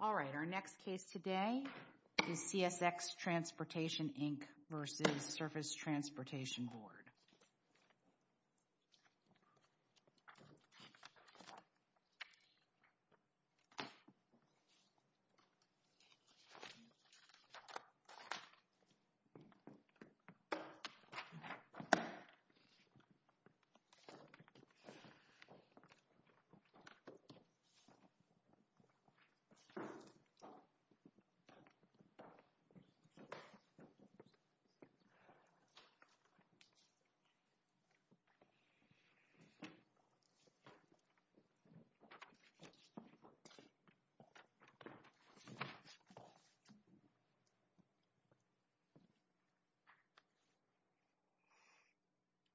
Alright, our next case today is CSX Transportation Inc. v. Surface Transportation Board.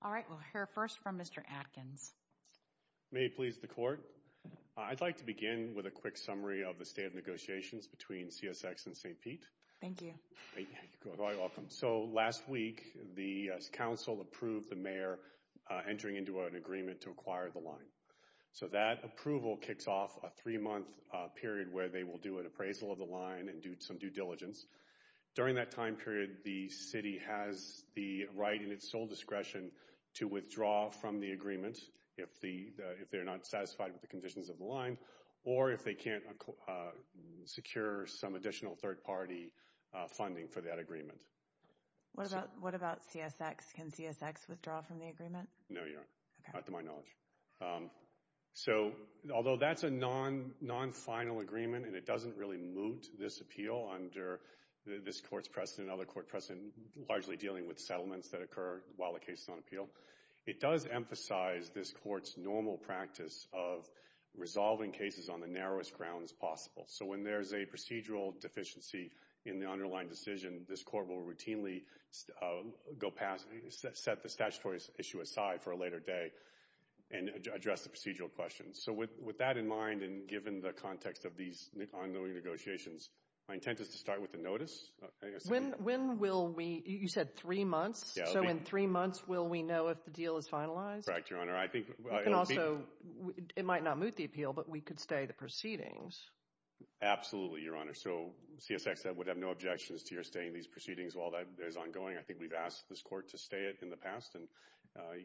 Alright, we'll hear first from Mr. Adkins. May it please the Court. I'd like to begin with a quick summary of the state of negotiations between CSX and St. Pete. Thank you. You're very welcome. So last week, the Council approved the Mayor entering into an agreement to acquire the line. So that approval kicks off a three-month period where they will do an appraisal of the line and do some due diligence. During that time period, the City has the right and its sole discretion to withdraw from the agreement if they're not satisfied with the conditions of the line or if they can't secure some additional third-party funding for that agreement. What about CSX? Can CSX withdraw from the agreement? No, you don't. Okay. Not to my knowledge. So, although that's a non-final agreement and it doesn't really moot this appeal under this Court's precedent and other Court precedents largely dealing with settlements that occur while the case is on appeal, it does emphasize this Court's normal practice of resolving cases on the narrowest grounds possible. So when there's a procedural deficiency in the underlying decision, this Court will routinely go past and set the statutory issue aside for a later day and address the procedural questions. So with that in mind and given the context of these ongoing negotiations, my intent is to start with the notice. When will we – you said three months. So in three months, will we know if the deal is finalized? Correct, Your Honor. It might not moot the appeal, but we could stay the proceedings. Absolutely, Your Honor. So CSX would have no objections to your staying these proceedings while that is ongoing. I think we've asked this Court to stay it in the past, and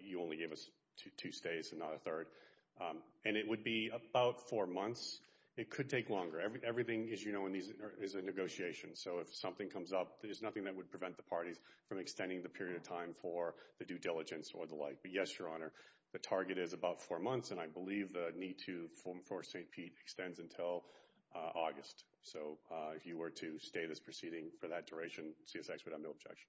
you only gave us two stays and not a third. And it would be about four months. It could take longer. Everything, as you know, is a negotiation. So if something comes up, there's nothing that would prevent the parties from extending the period of time for the due diligence or the like. But yes, Your Honor, the target is about four months, and I believe the need to enforce St. Pete extends until August. So if you were to stay this proceeding for that duration, CSX would have no objection.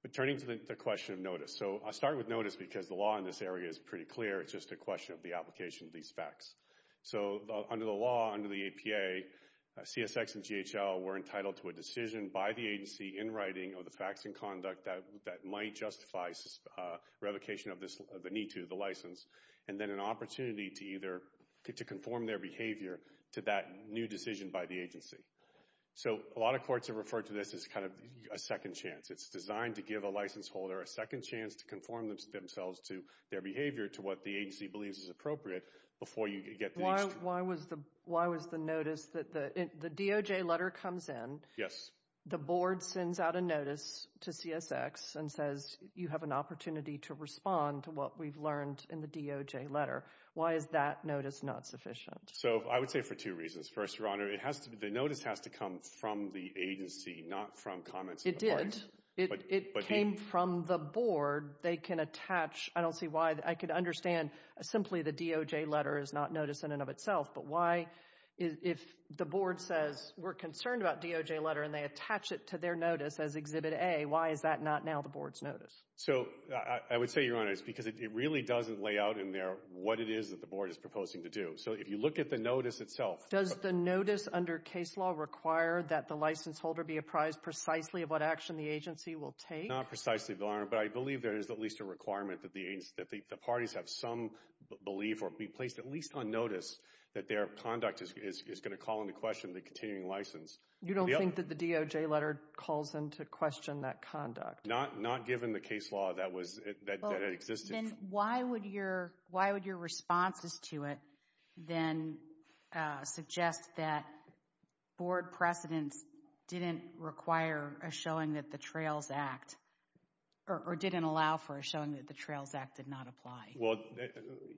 But turning to the question of notice, so I'll start with notice because the law in this area is pretty clear. It's just a question of the application of these facts. So under the law, under the APA, CSX and GHL were entitled to a decision by the agency in writing of the facts and conduct that might justify revocation of the need to, the license, and then an opportunity to either conform their behavior to that new decision by the agency. So a lot of courts have referred to this as kind of a second chance. It's designed to give a license holder a second chance to conform themselves to their behavior to what the agency believes is appropriate before you get the extra. Why was the notice that the DOJ letter comes in. Yes. The board sends out a notice to CSX and says you have an opportunity to respond to what we've learned in the DOJ letter. Why is that notice not sufficient? So I would say for two reasons. First, Your Honor, the notice has to come from the agency, not from comments of the parties. It did. It came from the board. They can attach, I don't see why, I could understand simply the DOJ letter is not notice in and of itself, but why if the board says we're concerned about DOJ letter and they attach it to their notice as Exhibit A, why is that not now the board's notice? So I would say, Your Honor, it's because it really doesn't lay out in there what it is that the board is proposing to do. So if you look at the notice itself. Does the notice under case law require that the license holder be apprised precisely of what action the agency will take? Not precisely, Your Honor, but I believe there is at least a requirement that the parties have some belief or be placed at least on notice that their conduct is going to call into question the continuing license. You don't think that the DOJ letter calls into question that conduct? Not given the case law that existed. Then why would your responses to it then suggest that board precedents didn't require a showing that the Trails Act, or didn't allow for a showing that the Trails Act did not apply? Well,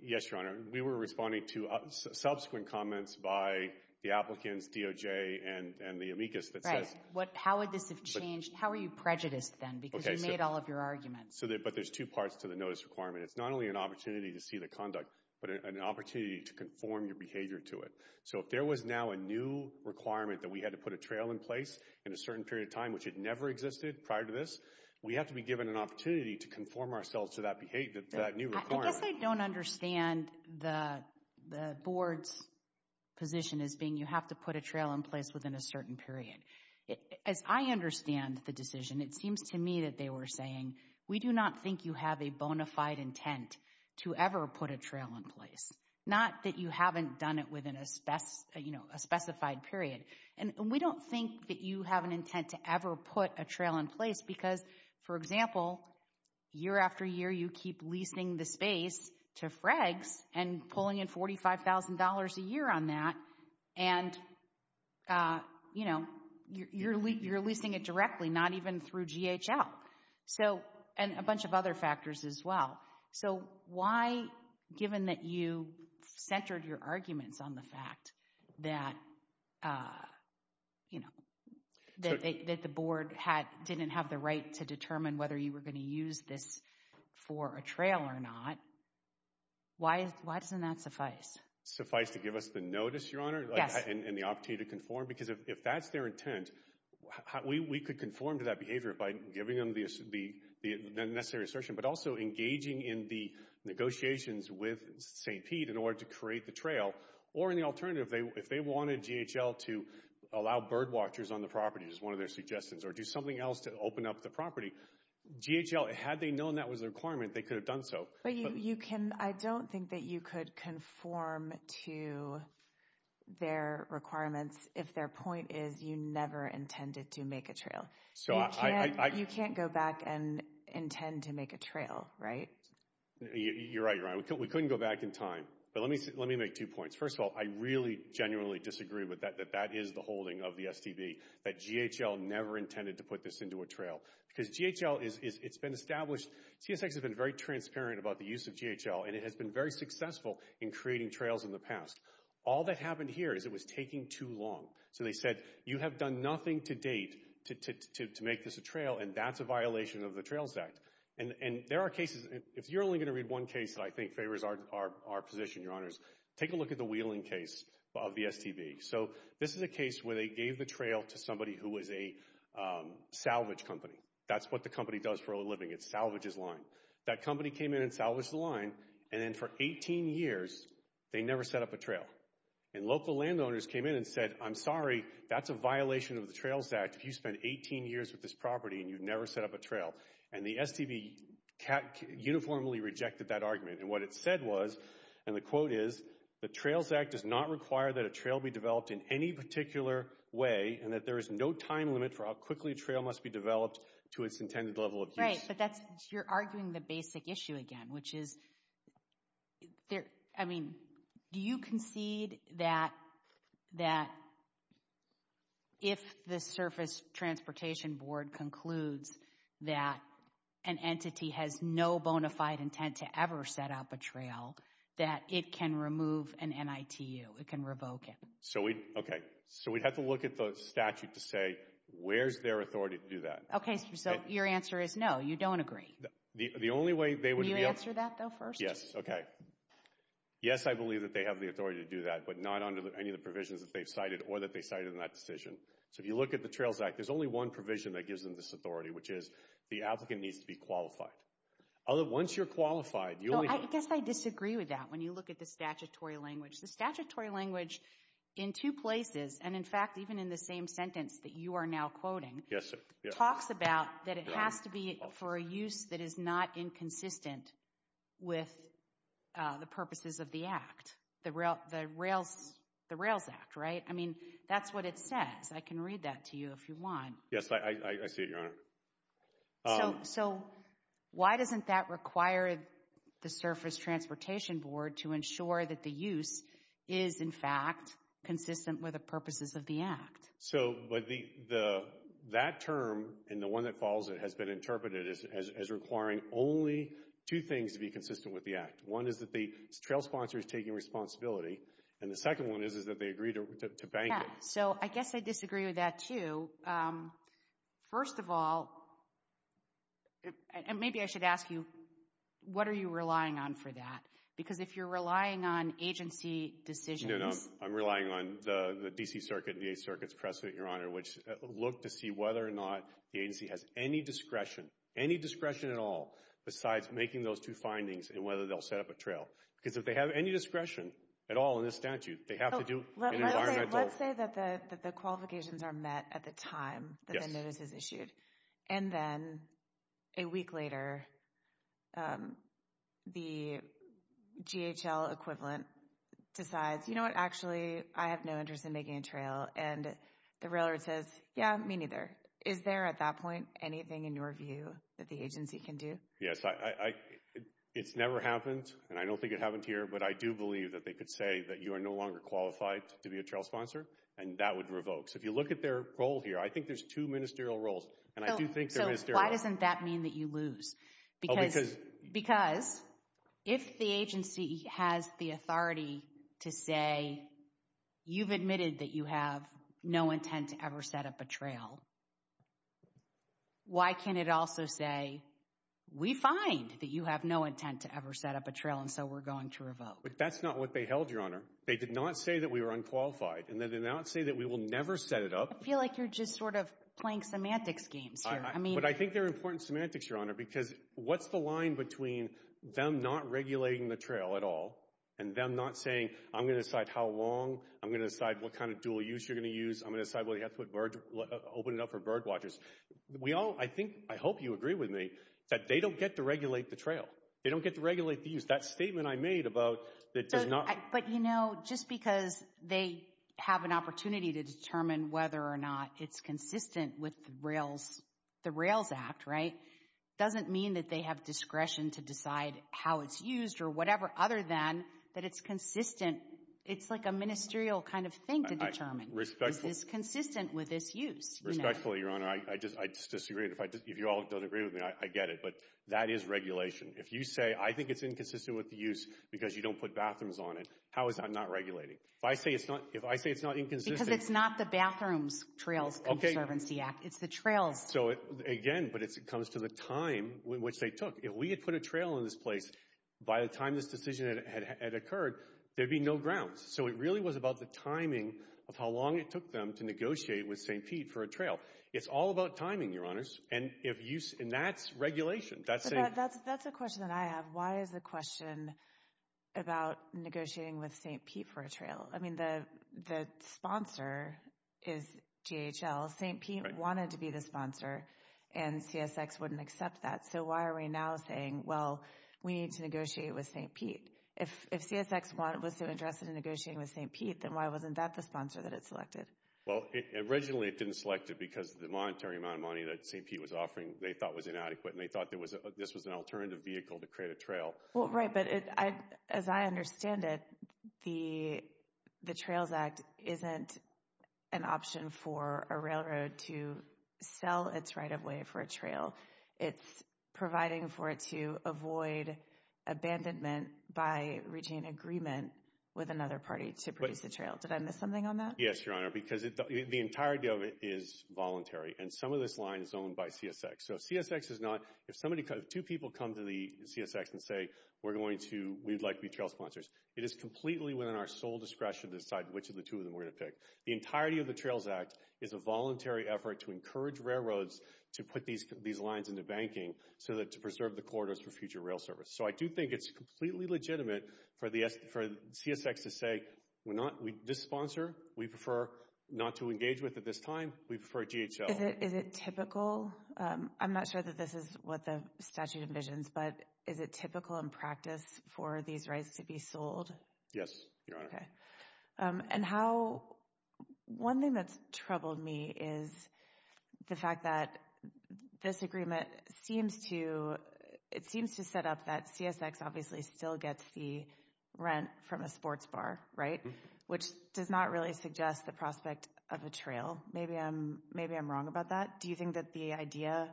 yes, Your Honor. We were responding to subsequent comments by the applicants, DOJ, and the amicus that says. Right. How would this have changed? How are you prejudiced then because you made all of your arguments? But there's two parts to the notice requirement. It's not only an opportunity to see the conduct, but an opportunity to conform your behavior to it. So if there was now a new requirement that we had to put a trail in place in a certain period of time, which had never existed prior to this, we have to be given an opportunity to conform ourselves to that new requirement. I guess I don't understand the board's position as being you have to put a trail in place within a certain period. As I understand the decision, it seems to me that they were saying, we do not think you have a bona fide intent to ever put a trail in place. Not that you haven't done it within a specified period. And we don't think that you have an intent to ever put a trail in place because, for example, year after year you keep leasing the space to Fregs and pulling in $45,000 a year on that. And you're leasing it directly, not even through GHL. And a bunch of other factors as well. So why, given that you centered your arguments on the fact that the board didn't have the right to determine whether you were going to use this for a trail or not, why doesn't that suffice? Suffice to give us the notice, Your Honor, and the opportunity to conform? Because if that's their intent, we could conform to that behavior by giving them the necessary assertion, but also engaging in the negotiations with St. Pete in order to create the trail. Or in the alternative, if they wanted GHL to allow bird watchers on the property, as one of their suggestions, or do something else to open up the property, GHL, had they known that was a requirement, they could have done so. But you can, I don't think that you could conform to their requirements if their point is you never intended to make a trail. You can't go back and intend to make a trail, right? You're right, Your Honor. We couldn't go back in time. But let me make two points. First of all, I really genuinely disagree with that, that that is the holding of the STB, that GHL never intended to put this into a trail. Because GHL, it's been established, TSX has been very transparent about the use of GHL, and it has been very successful in creating trails in the past. All that happened here is it was taking too long. So they said, you have done nothing to date to make this a trail, and that's a violation of the Trails Act. And there are cases, if you're only going to read one case that I think favors our position, Your Honors, take a look at the Wheeling case of the STB. So this is a case where they gave the trail to somebody who was a salvage company. That's what the company does for a living. It salvages line. That company came in and salvaged the line, and then for 18 years, they never set up a trail. And local landowners came in and said, I'm sorry, that's a violation of the Trails Act if you spent 18 years with this property and you've never set up a trail. And the STB uniformly rejected that argument. And what it said was, and the quote is, the Trails Act does not require that a trail be developed in any particular way and that there is no time limit for how quickly a trail must be developed to its intended level of use. Right, but that's, you're arguing the basic issue again, which is, I mean, do you concede that if the Surface Transportation Board concludes that an entity has no bona fide intent to ever set up a trail, that it can remove an NITU, it can revoke it? So we, okay, so we'd have to look at the statute to say, where's their authority to do that? Okay, so your answer is no, you don't agree. The only way they would be able to Can you answer that though first? Yes, okay. Yes, I believe that they have the authority to do that, but not under any of the provisions that they've cited or that they cited in that decision. So if you look at the Trails Act, there's only one provision that gives them this authority, which is the applicant needs to be qualified. Once you're qualified, you'll be I guess I disagree with that when you look at the statutory language. The statutory language in two places, and in fact, even in the same sentence that you are now quoting, talks about that it has to be for a use that is not inconsistent with the purposes of the Act, the Rails Act, right? I mean, that's what it says. I can read that to you if you want. Yes, I see it, Your Honor. So why doesn't that require the Surface Transportation Board to ensure that the use is in fact consistent with the purposes of the Act? So that term and the one that follows it has been interpreted as requiring only two things to be consistent with the Act. One is that the trail sponsor is taking responsibility, and the second one is that they agree to bank it. So I guess I disagree with that too. First of all, and maybe I should ask you, what are you relying on for that? Because if you're relying on agency decisions No, no, I'm relying on the D.C. Circuit and the Eighth Circuit's press suite, Your Honor, which look to see whether or not the agency has any discretion, any discretion at all, besides making those two findings and whether they'll set up a trail. Because if they have any discretion at all in this statute, they have to do an environmental Let's say that the qualifications are met at the time that the notice is issued, and then a week later the GHL equivalent decides, you know what, actually I have no interest in making a trail, and the railroad says, yeah, me neither. Is there at that point anything in your view that the agency can do? Yes, it's never happened, and I don't think it happened here, but I do believe that they could say that you are no longer qualified to be a trail sponsor, and that would revoke. So if you look at their role here, I think there's two ministerial roles, and I do think they're ministerial. So why doesn't that mean that you lose? Because if the agency has the authority to say, you've admitted that you have no intent to ever set up a trail, why can't it also say, we find that you have no intent to ever set up a trail, and so we're going to revoke. But that's not what they held, Your Honor. They did not say that we were unqualified, and they did not say that we will never set it up. I feel like you're just sort of playing semantics games here. But I think they're important semantics, Your Honor, because what's the line between them not regulating the trail at all, and them not saying, I'm going to decide how long, I'm going to decide what kind of dual use you're going to use, I'm going to decide whether you have to open it up for bird watchers. I hope you agree with me that they don't get to regulate the trail. They don't get to regulate the use. That statement I made about it does not— But, you know, just because they have an opportunity to determine whether or not it's consistent with the Rails Act, right, doesn't mean that they have discretion to decide how it's used or whatever, other than that it's consistent. It's like a ministerial kind of thing to determine. It's consistent with its use. Respectfully, Your Honor, I disagree. If you all don't agree with me, I get it. But that is regulation. If you say, I think it's inconsistent with the use because you don't put bathrooms on it, how is that not regulating? If I say it's not inconsistent— Because it's not the Bathrooms Trails Conservancy Act. It's the trails. So, again, but it comes to the time which they took. If we had put a trail in this place by the time this decision had occurred, there'd be no grounds. So it really was about the timing of how long it took them to negotiate with St. Pete for a trail. It's all about timing, Your Honors. And that's regulation. That's a question that I have. Why is the question about negotiating with St. Pete for a trail? I mean, the sponsor is GHL. St. Pete wanted to be the sponsor, and CSX wouldn't accept that. So why are we now saying, well, we need to negotiate with St. Pete? If CSX was so interested in negotiating with St. Pete, then why wasn't that the sponsor that it selected? Well, originally it didn't select it because of the monetary amount of money that St. Pete was offering they thought was inadequate, and they thought this was an alternative vehicle to create a trail. Well, right, but as I understand it, the Trails Act isn't an option for a railroad to sell its right-of-way for a trail. It's providing for it to avoid abandonment by reaching an agreement with another party to produce a trail. Did I miss something on that? Yes, Your Honor, because the entirety of it is voluntary, and some of this line is owned by CSX. So if two people come to CSX and say, we'd like to be trail sponsors, it is completely within our sole discretion to decide which of the two of them we're going to pick. The entirety of the Trails Act is a voluntary effort to encourage railroads to put these lines into banking to preserve the corridors for future rail service. So I do think it's completely legitimate for CSX to say, this sponsor, we prefer not to engage with at this time. We prefer GHL. Is it typical? I'm not sure that this is what the statute envisions, but is it typical in practice for these rights to be sold? Yes, Your Honor. And one thing that's troubled me is the fact that this agreement seems to set up that CSX obviously still gets the rent from a sports bar, right, which does not really suggest the prospect of a trail. Maybe I'm wrong about that. Do you think that the idea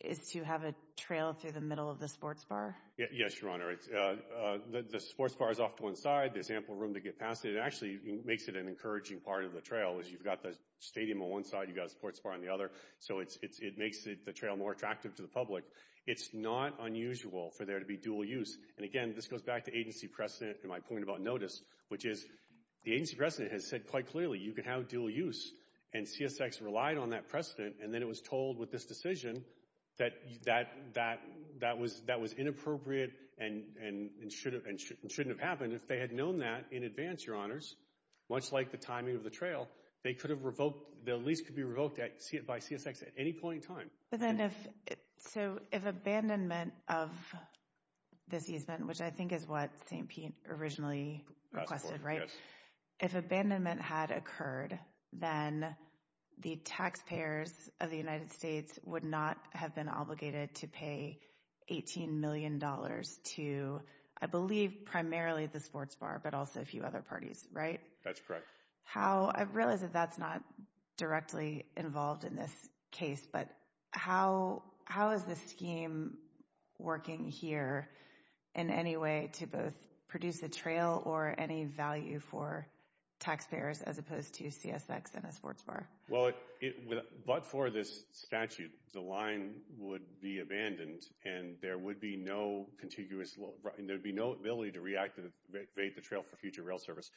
is to have a trail through the middle of the sports bar? Yes, Your Honor. The sports bar is off to one side. There's ample room to get past it. It actually makes it an encouraging part of the trail is you've got the stadium on one side, you've got a sports bar on the other. So it makes the trail more attractive to the public. It's not unusual for there to be dual use. And, again, this goes back to agency precedent and my point about notice, which is the agency precedent has said quite clearly you can have dual use, and CSX relied on that precedent, and then it was told with this decision that that was inappropriate and shouldn't have happened. If they had known that in advance, Your Honors, much like the timing of the trail, the lease could be revoked by CSX at any point in time. So if abandonment of this easement, which I think is what St. Pete originally requested, right, if abandonment had occurred, then the taxpayers of the United States would not have been obligated to pay $18 million to, I believe, primarily the sports bar, but also a few other parties, right? That's correct. I realize that that's not directly involved in this case, but how is this scheme working here in any way to both produce a trail or any value for taxpayers as opposed to CSX and a sports bar? Well, but for this statute, the line would be abandoned and there would be no contiguous, and there would be no ability to reactivate the trail for future rail service.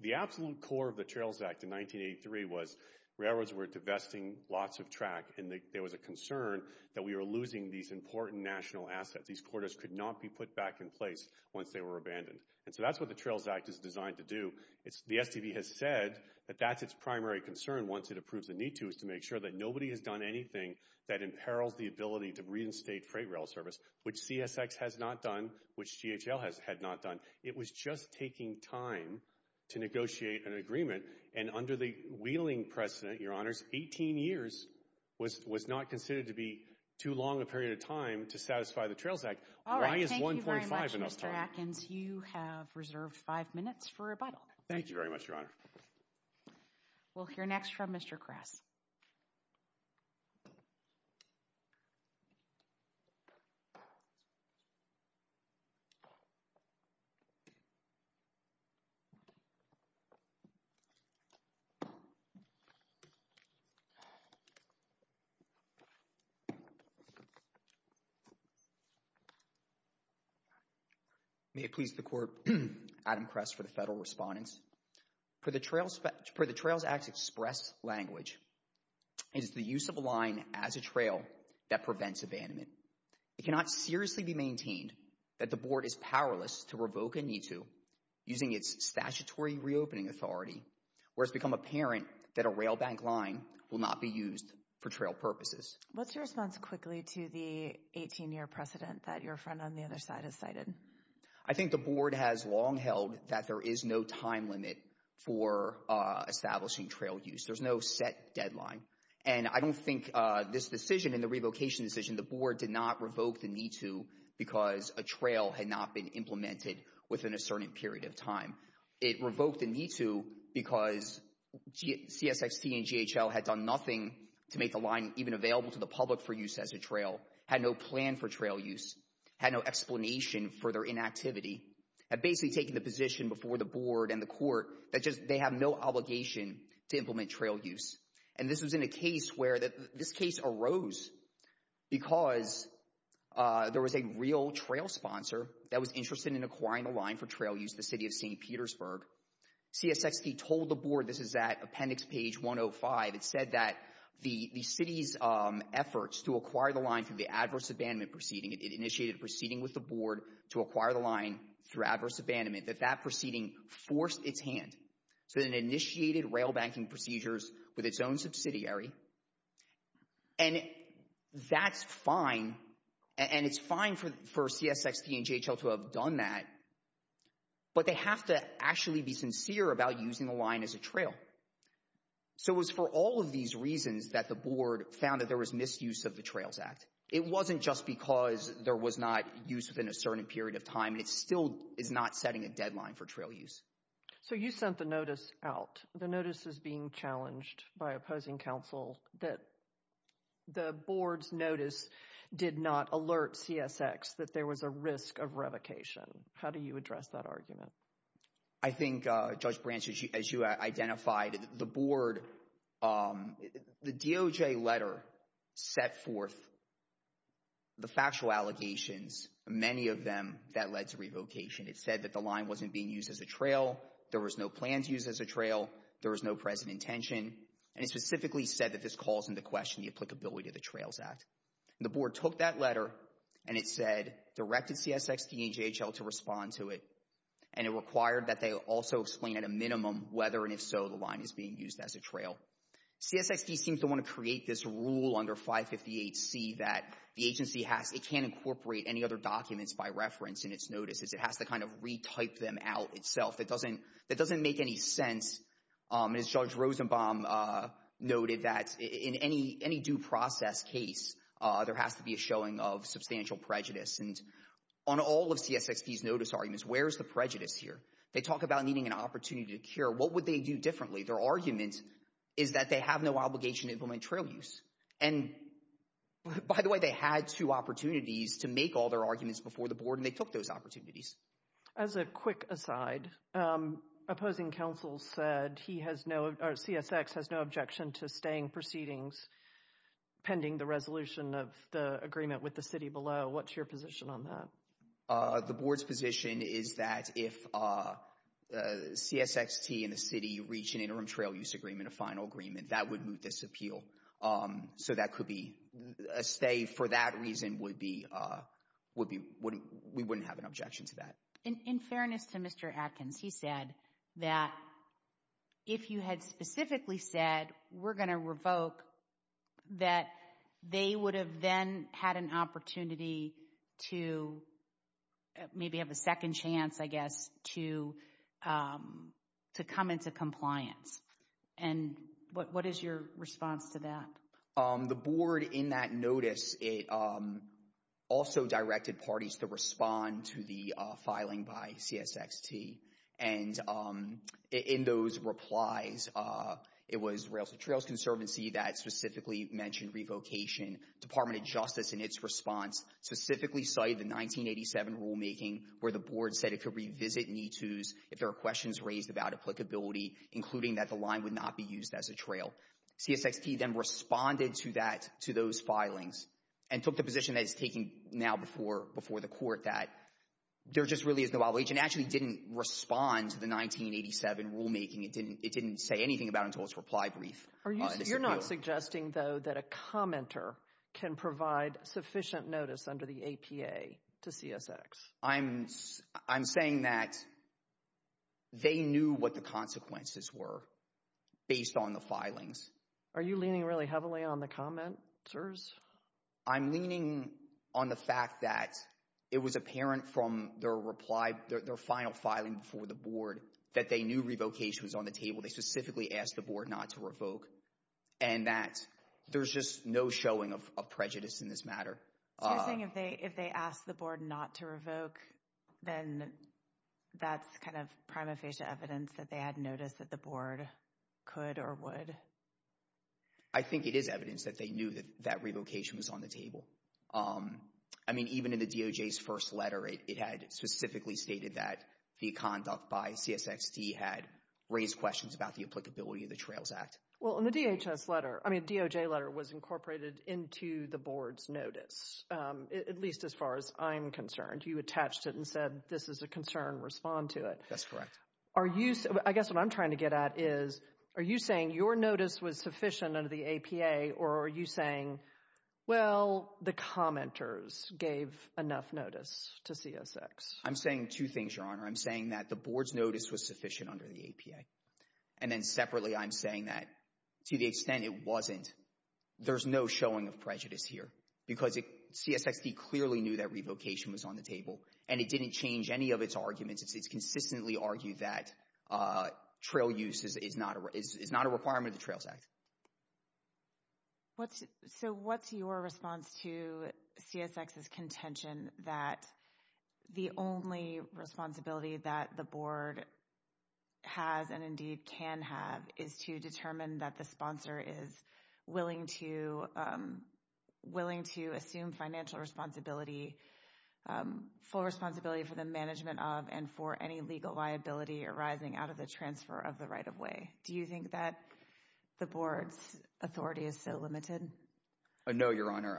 The absolute core of the Trails Act in 1983 was railroads were divesting lots of track and there was a concern that we were losing these important national assets. These quarters could not be put back in place once they were abandoned. And so that's what the Trails Act is designed to do. The STV has said that that's its primary concern once it approves a need to, is to make sure that nobody has done anything that imperils the ability to reinstate freight rail service, which CSX has not done, which GHL had not done. It was just taking time to negotiate an agreement, and under the Wheeling precedent, Your Honour, 18 years was not considered to be too long a period of time to satisfy the Trails Act. Why is 1.5 enough time? All right. Thank you very much, Mr. Atkins. You have reserved five minutes for rebuttal. Thank you very much, Your Honour. We'll hear next from Mr. Kress. May it please the Court. Adam Kress for the Federal Respondents. Per the Trails Act's express language, it is the use of a line as a trail that prevents abandonment. It cannot seriously be maintained that the Board is powerless to revoke a need to using its statutory reopening authority, where it's become apparent that a rail bank line will not be used for trail purposes. What's your response quickly to the 18-year precedent that your friend on the other side has cited? I think the Board has long held that there is no time limit for establishing trail use. There's no set deadline. And I don't think this decision and the revocation decision the Board did not revoke the need to because a trail had not been implemented within a certain period of time. It revoked the need to because CSXT and GHL had done nothing to make the line even available to the public for use as a trail, had no plan for trail use, had no explanation for their inactivity, had basically taken the position before the Board and the Court that they have no obligation to implement trail use. And this was in a case where this case arose because there was a real trail sponsor that was interested in acquiring a line for trail use, the City of St. Petersburg. CSXT told the Board, this is at appendix page 105, it said that the City's efforts to acquire the line through the adverse abandonment proceeding, it initiated a proceeding with the Board to acquire the line through adverse abandonment, that that proceeding forced its hand. So it initiated rail banking procedures with its own subsidiary. And that's fine. And it's fine for CSXT and GHL to have done that. But they have to actually be sincere about using the line as a trail. So it was for all of these reasons that the Board found that there was misuse of the Trails Act. It wasn't just because there was not use within a certain period of time. It still is not setting a deadline for trail use. So you sent the notice out. The notice is being challenged by opposing counsel that the Board's notice did not alert CSX that there was a risk of revocation. How do you address that argument? I think, Judge Branch, as you identified, the Board, the DOJ letter set forth the factual allegations, many of them that led to revocation. It said that the line wasn't being used as a trail. There was no plans used as a trail. There was no present intention. And it specifically said that this calls into question the applicability of the Trails Act. The Board took that letter, and it said, directed CSXT and GHL to respond to it. And it required that they also explain at a minimum whether and if so the line is being used as a trail. CSXT seems to want to create this rule under 558C that the agency has, it can't incorporate any other documents by reference in its notices. It has to kind of retype them out itself. It doesn't make any sense, as Judge Rosenbaum noted, that in any due process case, there has to be a showing of substantial prejudice. And on all of CSXT's notice arguments, where is the prejudice here? They talk about needing an opportunity to cure. What would they do differently? Their argument is that they have no obligation to implement trail use. And, by the way, they had two opportunities to make all their arguments before the Board, and they took those opportunities. As a quick aside, opposing counsel said CSX has no objection to staying proceedings pending the resolution of the agreement with the city below. What's your position on that? The Board's position is that if CSXT and the city reach an interim trail use agreement, a final agreement, that would move this appeal. So that could be a stay. For that reason, we wouldn't have an objection to that. In fairness to Mr. Atkins, he said that if you had specifically said, we're going to revoke, that they would have then had an opportunity to maybe have a second chance, I guess, to come into compliance. And what is your response to that? The Board, in that notice, also directed parties to respond to the filing by CSXT. And in those replies, it was Rails to Trails Conservancy that specifically mentioned revocation. Department of Justice, in its response, specifically cited the 1987 rulemaking where the Board said it could revisit MeToos if there were questions raised about applicability, including that the line would not be used as a trail. CSXT then responded to that, to those filings, and took the position that it's taking now before the court that there just really is no obligation. It actually didn't respond to the 1987 rulemaking. It didn't say anything about it until its reply brief. You're not suggesting, though, that a commenter can provide sufficient notice under the APA to CSX? I'm saying that they knew what the consequences were based on the filings. Are you leaning really heavily on the commenters? I'm leaning on the fact that it was apparent from their final filing before the Board that they knew revocation was on the table. They specifically asked the Board not to revoke, and that there's just no showing of prejudice in this matter. So you're saying if they asked the Board not to revoke, then that's kind of prima facie evidence that they had notice that the Board could or would? I think it is evidence that they knew that that revocation was on the table. I mean, even in the DOJ's first letter, it had specifically stated that the conduct by CSXT had raised questions about the applicability of the Trails Act. Well, in the DOJ letter, it was incorporated into the Board's notice, at least as far as I'm concerned. You attached it and said this is a concern, respond to it. That's correct. I guess what I'm trying to get at is, are you saying your notice was sufficient under the APA, or are you saying, well, the commenters gave enough notice to CSX? I'm saying two things, Your Honor. I'm saying that the Board's notice was sufficient under the APA, and then separately I'm saying that to the extent it wasn't, there's no showing of prejudice here because CSXT clearly knew that revocation was on the table, and it didn't change any of its arguments. It's consistently argued that trail use is not a requirement of the Trails Act. So what's your response to CSX's contention that the only responsibility that the Board has and indeed can have is to determine that the sponsor is willing to assume financial responsibility, full responsibility for the management of and for any legal liability arising out of the transfer of the right-of-way? Do you think that the Board's authority is so limited? No, Your Honor.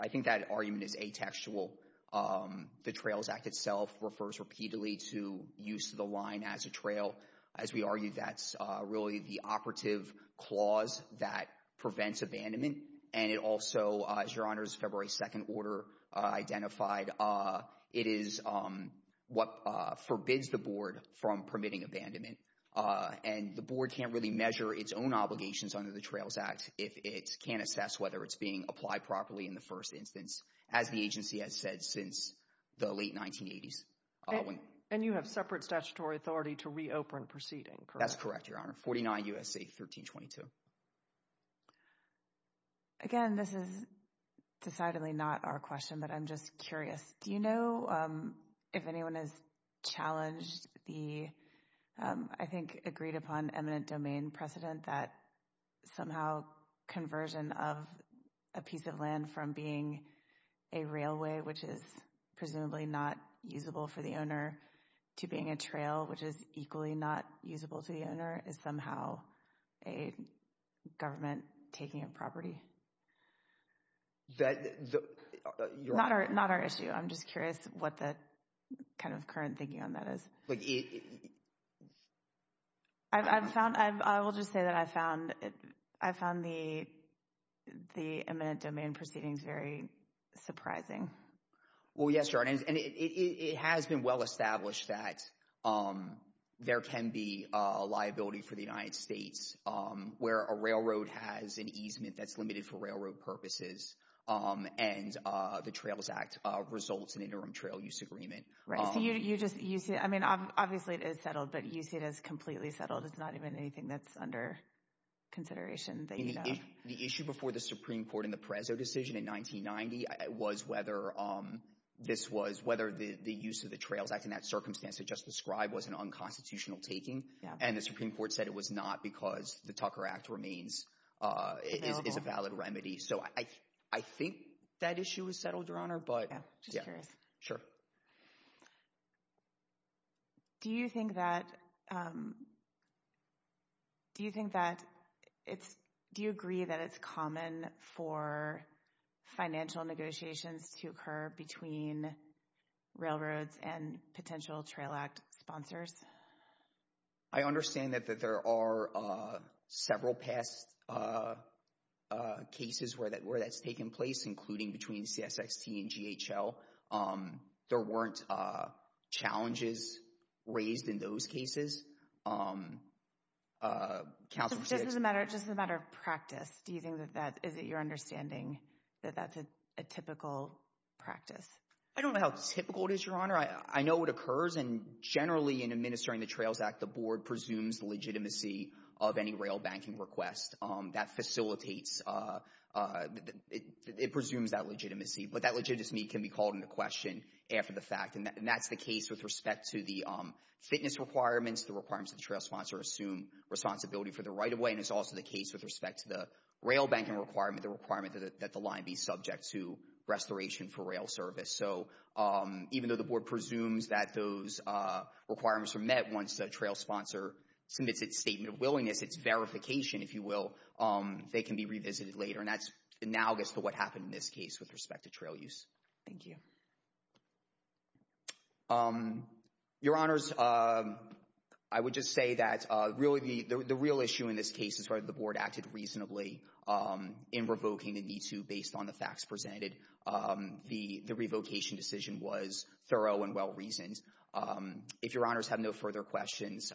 I think that argument is atextual. The Trails Act itself refers repeatedly to use of the line as a trail. As we argued, that's really the operative clause that prevents abandonment, and it also, as Your Honor's February 2nd order identified, it is what forbids the Board from permitting abandonment. And the Board can't really measure its own obligations under the Trails Act if it can't assess whether it's being applied properly in the first instance, as the agency has said since the late 1980s. And you have separate statutory authority to reopen proceeding, correct? That's correct, Your Honor. 49 U.S.C. 1322. Again, this is decidedly not our question, but I'm just curious. Do you know if anyone has challenged the, I think, agreed-upon eminent domain precedent that somehow conversion of a piece of land from being a railway, which is presumably not usable for the owner, to being a trail, which is equally not usable to the owner, is somehow a government taking a property? That— Not our issue. I'm just curious what the kind of current thinking on that is. I will just say that I found the eminent domain proceedings very surprising. Well, yes, Your Honor, and it has been well-established that there can be a liability for the United States where a railroad has an easement that's limited for railroad purposes, and the Trails Act results in interim trail use agreement. Right, so you just—I mean, obviously it is settled, but you see it as completely settled. It's not even anything that's under consideration that you know. The issue before the Supreme Court in the Perezzo decision in 1990 was whether this was— whether the use of the Trails Act in that circumstance that Justice Scribe was an unconstitutional taking, and the Supreme Court said it was not because the Tucker Act remains—is a valid remedy. So I think that issue is settled, Your Honor, but— Just curious. Sure. Do you think that—do you think that it's—do you agree that it's common for financial negotiations to occur between railroads and potential Trail Act sponsors? I understand that there are several past cases where that's taken place, including between CSXT and GHL. There weren't challenges raised in those cases. Counsel— Just as a matter of practice, do you think that that—is it your understanding that that's a typical practice? I don't know how typical it is, Your Honor. I know it occurs, and generally in administering the Trails Act, the board presumes the legitimacy of any rail banking request. That facilitates—it presumes that legitimacy. But that legitimacy can be called into question after the fact, and that's the case with respect to the fitness requirements, the requirements that the trail sponsor assume responsibility for the right-of-way, and it's also the case with respect to the rail banking requirement, the requirement that the line be subject to restoration for rail service. So even though the board presumes that those requirements are met, once the trail sponsor submits its statement of willingness, its verification, if you will, they can be revisited later, and that's analogous to what happened in this case with respect to trail use. Thank you. Your Honors, I would just say that really the real issue in this case is whether the board acted reasonably in revoking the MeToo based on the facts presented. The revocation decision was thorough and well-reasoned. If Your Honors have no further questions,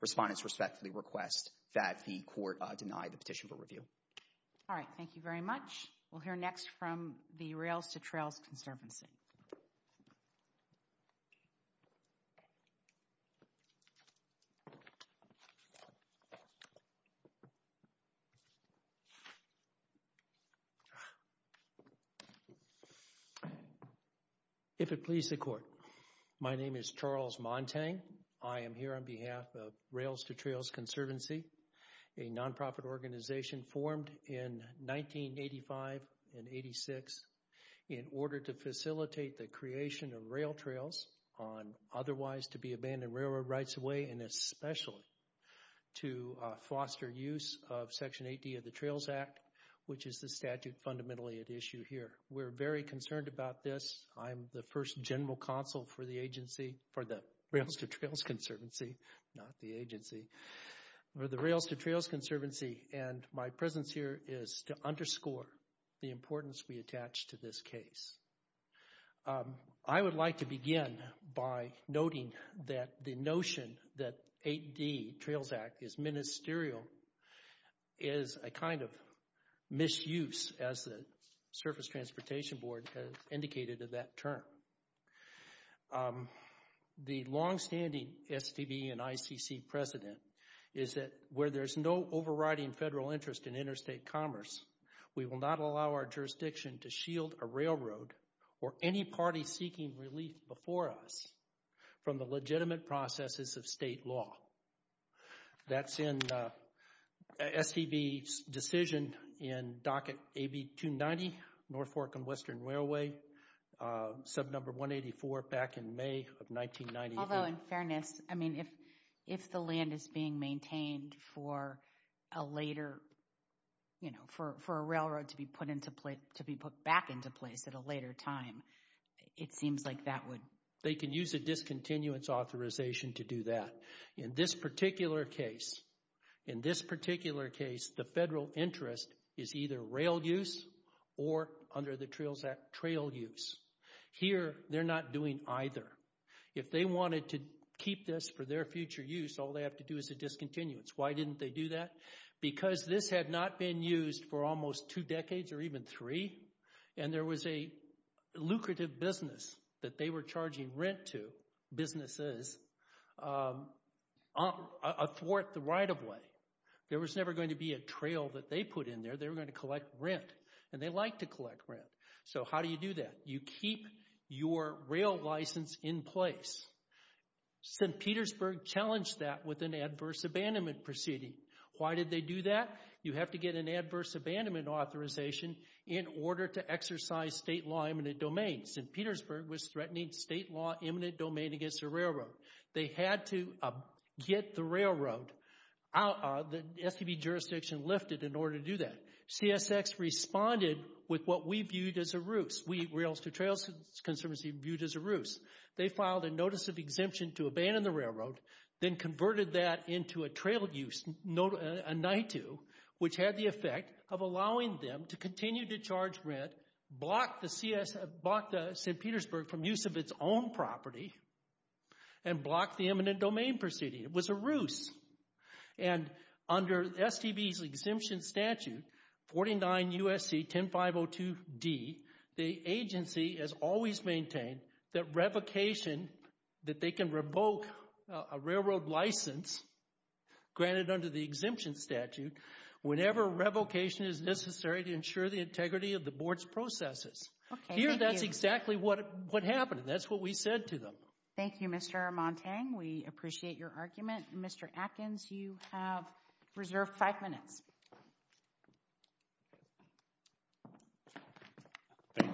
respondents respectfully request that the court deny the petition for review. All right. Thank you very much. We'll hear next from the Rails to Trails Conservancy. If it please the court, my name is Charles Montang. I am here on behalf of Rails to Trails Conservancy, a nonprofit organization formed in 1985 and 86 in order to facilitate the creation of rail trails on otherwise to be abandoned railroad rights-of-way and especially to foster use of Section 80 of the Trails Act, which is the statute fundamentally at issue here. We're very concerned about this. I'm the first general counsel for the agency, for the Rails to Trails Conservancy, not the agency, for the Rails to Trails Conservancy, and my presence here is to underscore the importance we attach to this case. I would like to begin by noting that the notion that 8D, Trails Act, is ministerial is a kind of misuse, as the Surface Transportation Board has indicated in that term. The longstanding STB and ICC precedent is that where there's no overriding federal interest in interstate commerce, we will not allow our jurisdiction to shield a railroad or any party seeking relief before us from the legitimate processes of state law. That's in STB's decision in docket AB 290, North Fork and Western Railway, sub number 184, back in May of 1990. Although, in fairness, if the land is being maintained for a railroad to be put back into place at a later time, it seems like that would... They can use a discontinuance authorization to do that. In this particular case, the federal interest is either rail use or, under the Trails Act, trail use. Here, they're not doing either. If they wanted to keep this for their future use, all they have to do is a discontinuance. Why didn't they do that? Because this had not been used for almost two decades or even three, and there was a lucrative business that they were charging rent to, businesses, a fourth right-of-way. There was never going to be a trail that they put in there. They were going to collect rent, and they like to collect rent. So how do you do that? You keep your rail license in place. St. Petersburg challenged that with an adverse abandonment proceeding. Why did they do that? You have to get an adverse abandonment authorization in order to exercise state law eminent domain. St. Petersburg was threatening state law eminent domain against the railroad. They had to get the railroad, the SCB jurisdiction, lifted in order to do that. CSX responded with what we viewed as a ruse. We, Rails-to-Trails Conservancy, viewed as a ruse. They filed a notice of exemption to abandon the railroad, then converted that into a trail use, a NITU, which had the effect of allowing them to continue to charge rent, block the St. Petersburg from use of its own property, and block the eminent domain proceeding. It was a ruse. And under STB's exemption statute, 49 U.S.C. 10502 D, the agency has always maintained that revocation, that they can revoke a railroad license granted under the exemption statute whenever revocation is necessary to ensure the integrity of the board's processes. Here, that's exactly what happened. That's what we said to them. Thank you, Mr. Armantang. We appreciate your argument. Mr. Atkins, you have reserved five minutes.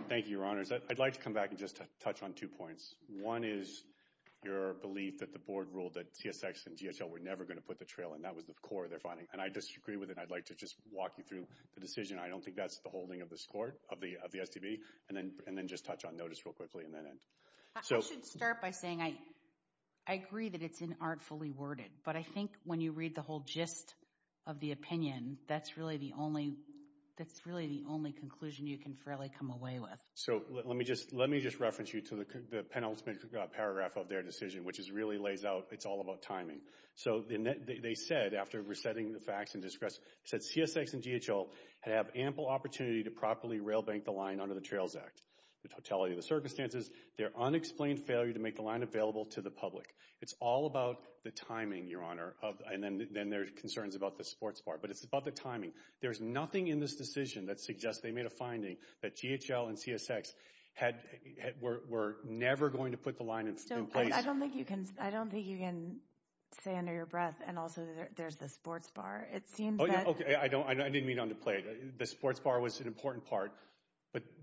Thank you, Your Honors. I'd like to come back and just touch on two points. One is your belief that the board ruled that CSX and GSL were never going to put the trail in. That was the core of their finding, and I disagree with it. I'd like to just walk you through the decision. I don't think that's the holding of the STB. And then just touch on notice real quickly and then end. I should start by saying I agree that it's inartfully worded, but I think when you read the whole gist of the opinion, that's really the only conclusion you can fairly come away with. So let me just reference you to the penultimate paragraph of their decision, which really lays out it's all about timing. So they said, after resetting the facts and discretion, said CSX and GSL have ample opportunity to properly rail bank the line under the Trails Act. The totality of the circumstances, their unexplained failure to make the line available to the public. It's all about the timing, Your Honor. And then there's concerns about the sports bar. But it's about the timing. There's nothing in this decision that suggests they made a finding that GHL and CSX were never going to put the line in place. I don't think you can say under your breath, and also there's the sports bar. Okay, I didn't mean to underplay it. The sports bar was an important part.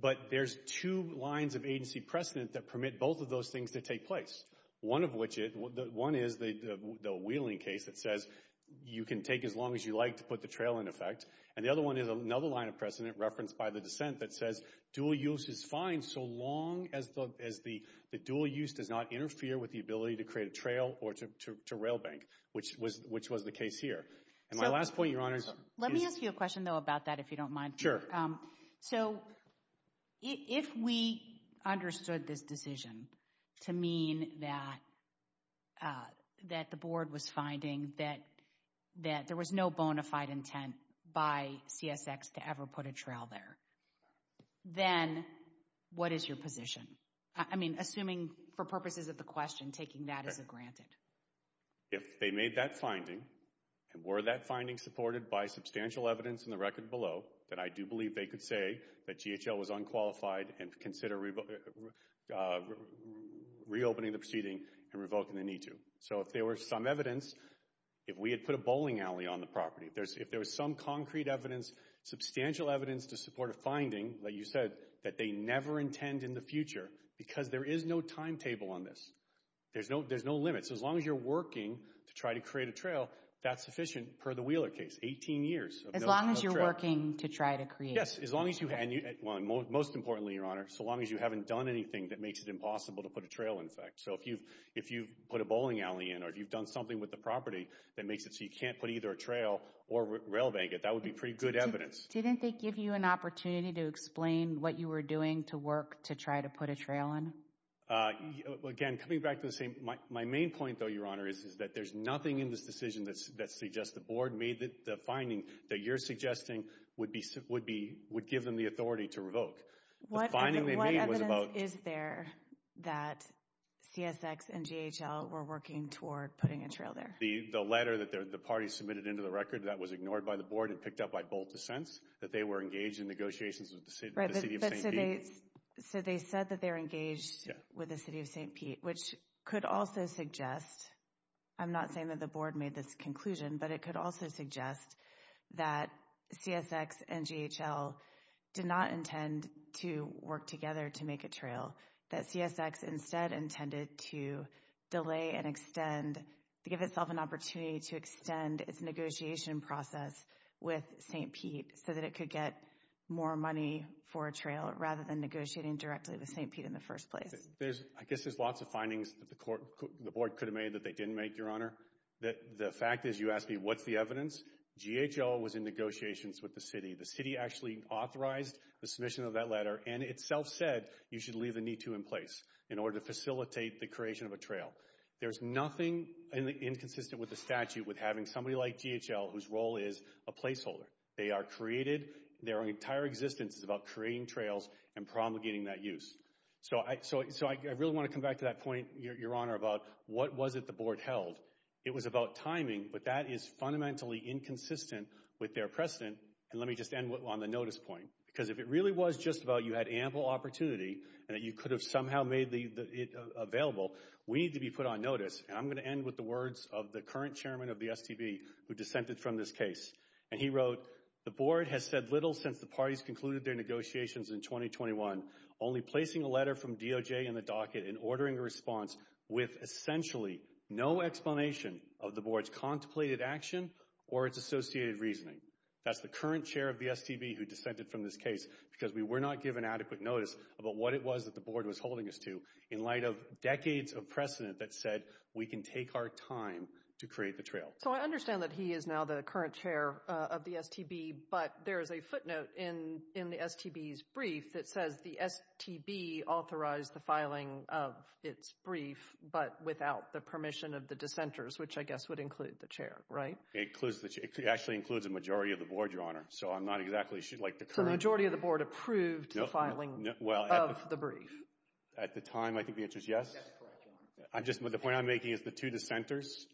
But there's two lines of agency precedent that permit both of those things to take place. One is the Wheeling case that says you can take as long as you like to put the trail in effect. And the other one is another line of precedent referenced by the dissent that says dual use is fine so long as the dual use does not interfere with the ability to create a trail or to rail bank, which was the case here. And my last point, Your Honor. Let me ask you a question, though, about that, if you don't mind. Sure. So if we understood this decision to mean that the board was finding that there was no bona fide intent by CSX to ever put a trail there, then what is your position? I mean, assuming for purposes of the question, taking that as a granted. If they made that finding, and were that finding supported by substantial evidence in the record below, then I do believe they could say that GHL was unqualified and consider reopening the proceeding and revoking the need to. So if there were some evidence, if we had put a bowling alley on the property, if there was some concrete evidence, substantial evidence to support a finding that you said that they never intend in the future, because there is no timetable on this. There's no limit. So as long as you're working to try to create a trail, that's sufficient per the Wheeler case. Eighteen years. As long as you're working to try to create a trail. Yes. And most importantly, Your Honor, so long as you haven't done anything that makes it impossible to put a trail in effect. So if you've put a bowling alley in, or if you've done something with the property that makes it so you can't put either a trail or rail bank, that would be pretty good evidence. Didn't they give you an opportunity to explain what you were doing to work to try to put a trail in? Again, coming back to the same, my main point, though, Your Honor, is that there's nothing in this decision that suggests the board made the finding that you're suggesting would give them the authority to revoke. What evidence is there that CSX and GHL were working toward putting a trail there? The letter that the party submitted into the record, that was ignored by the board and picked up by both dissents, that they were engaged in negotiations with the city of St. Pete. So they said that they're engaged with the city of St. Pete, which could also suggest, I'm not saying that the board made this conclusion, but it could also suggest that CSX and GHL did not intend to work together to make a trail, that CSX instead intended to delay and extend, to give itself an opportunity to extend its negotiation process with St. Pete so that it could get more money for a trail rather than negotiating directly with St. Pete in the first place. I guess there's lots of findings that the board could have made that they didn't make, Your Honor. The fact is, you asked me, what's the evidence? GHL was in negotiations with the city. The city actually authorized the submission of that letter and itself said, you should leave a need to in place in order to facilitate the creation of a trail. There's nothing inconsistent with the statute with having somebody like GHL whose role is a placeholder. They are created, their entire existence is about creating trails and promulgating that use. So I really want to come back to that point, Your Honor, about what was it the board held. It was about timing, but that is fundamentally inconsistent with their precedent. And let me just end on the notice point, because if it really was just about you had ample opportunity and that you could have somehow made it available, we need to be put on notice. And I'm going to end with the words of the current chairman of the STB who dissented from this case. And he wrote, the board has said little since the parties concluded their negotiations in 2021, only placing a letter from DOJ in the docket and ordering a response with essentially no explanation of the board's contemplated action or its associated reasoning. That's the current chair of the STB who dissented from this case because we were not given adequate notice about what it was that the board was holding us to in light of decades of precedent that said, we can take our time to create the trail. So I understand that he is now the current chair of the STB, but there is a footnote in the STB's brief that says the STB authorized the filing of its brief, but without the permission of the dissenters, which I guess would include the chair, right? It actually includes the majority of the board, Your Honor, so I'm not exactly sure. So the majority of the board approved the filing of the brief? At the time, I think the answer is yes. The point I'm making is the two dissenters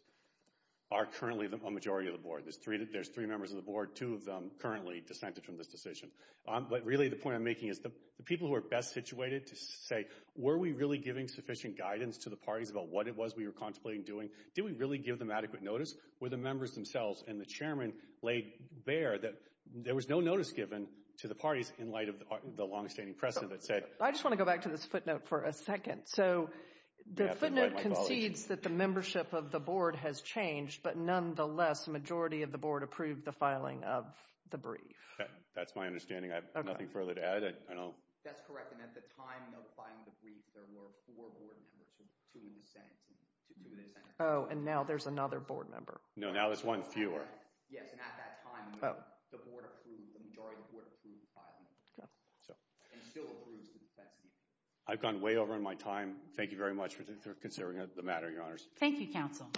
are currently the majority of the board. There's three members of the board, two of them currently dissented from this decision. But really the point I'm making is the people who are best situated to say, were we really giving sufficient guidance to the parties about what it was we were contemplating doing? Did we really give them adequate notice? Were the members themselves and the chairman laid bare that there was no notice given to the parties in light of the longstanding precedent that said— I just want to go back to this footnote for a second. So the footnote concedes that the membership of the board has changed, but nonetheless, the majority of the board approved the filing of the brief. That's my understanding. I have nothing further to add. That's correct, and at the time of filing the brief, there were four board members, two dissenters. Oh, and now there's another board member. No, now there's one fewer. Yes, and at that time, the majority of the board approved the filing. And still approves the tax deductions. I've gone way over on my time. Thank you very much for considering the matter, Your Honors. Thank you, Counsel.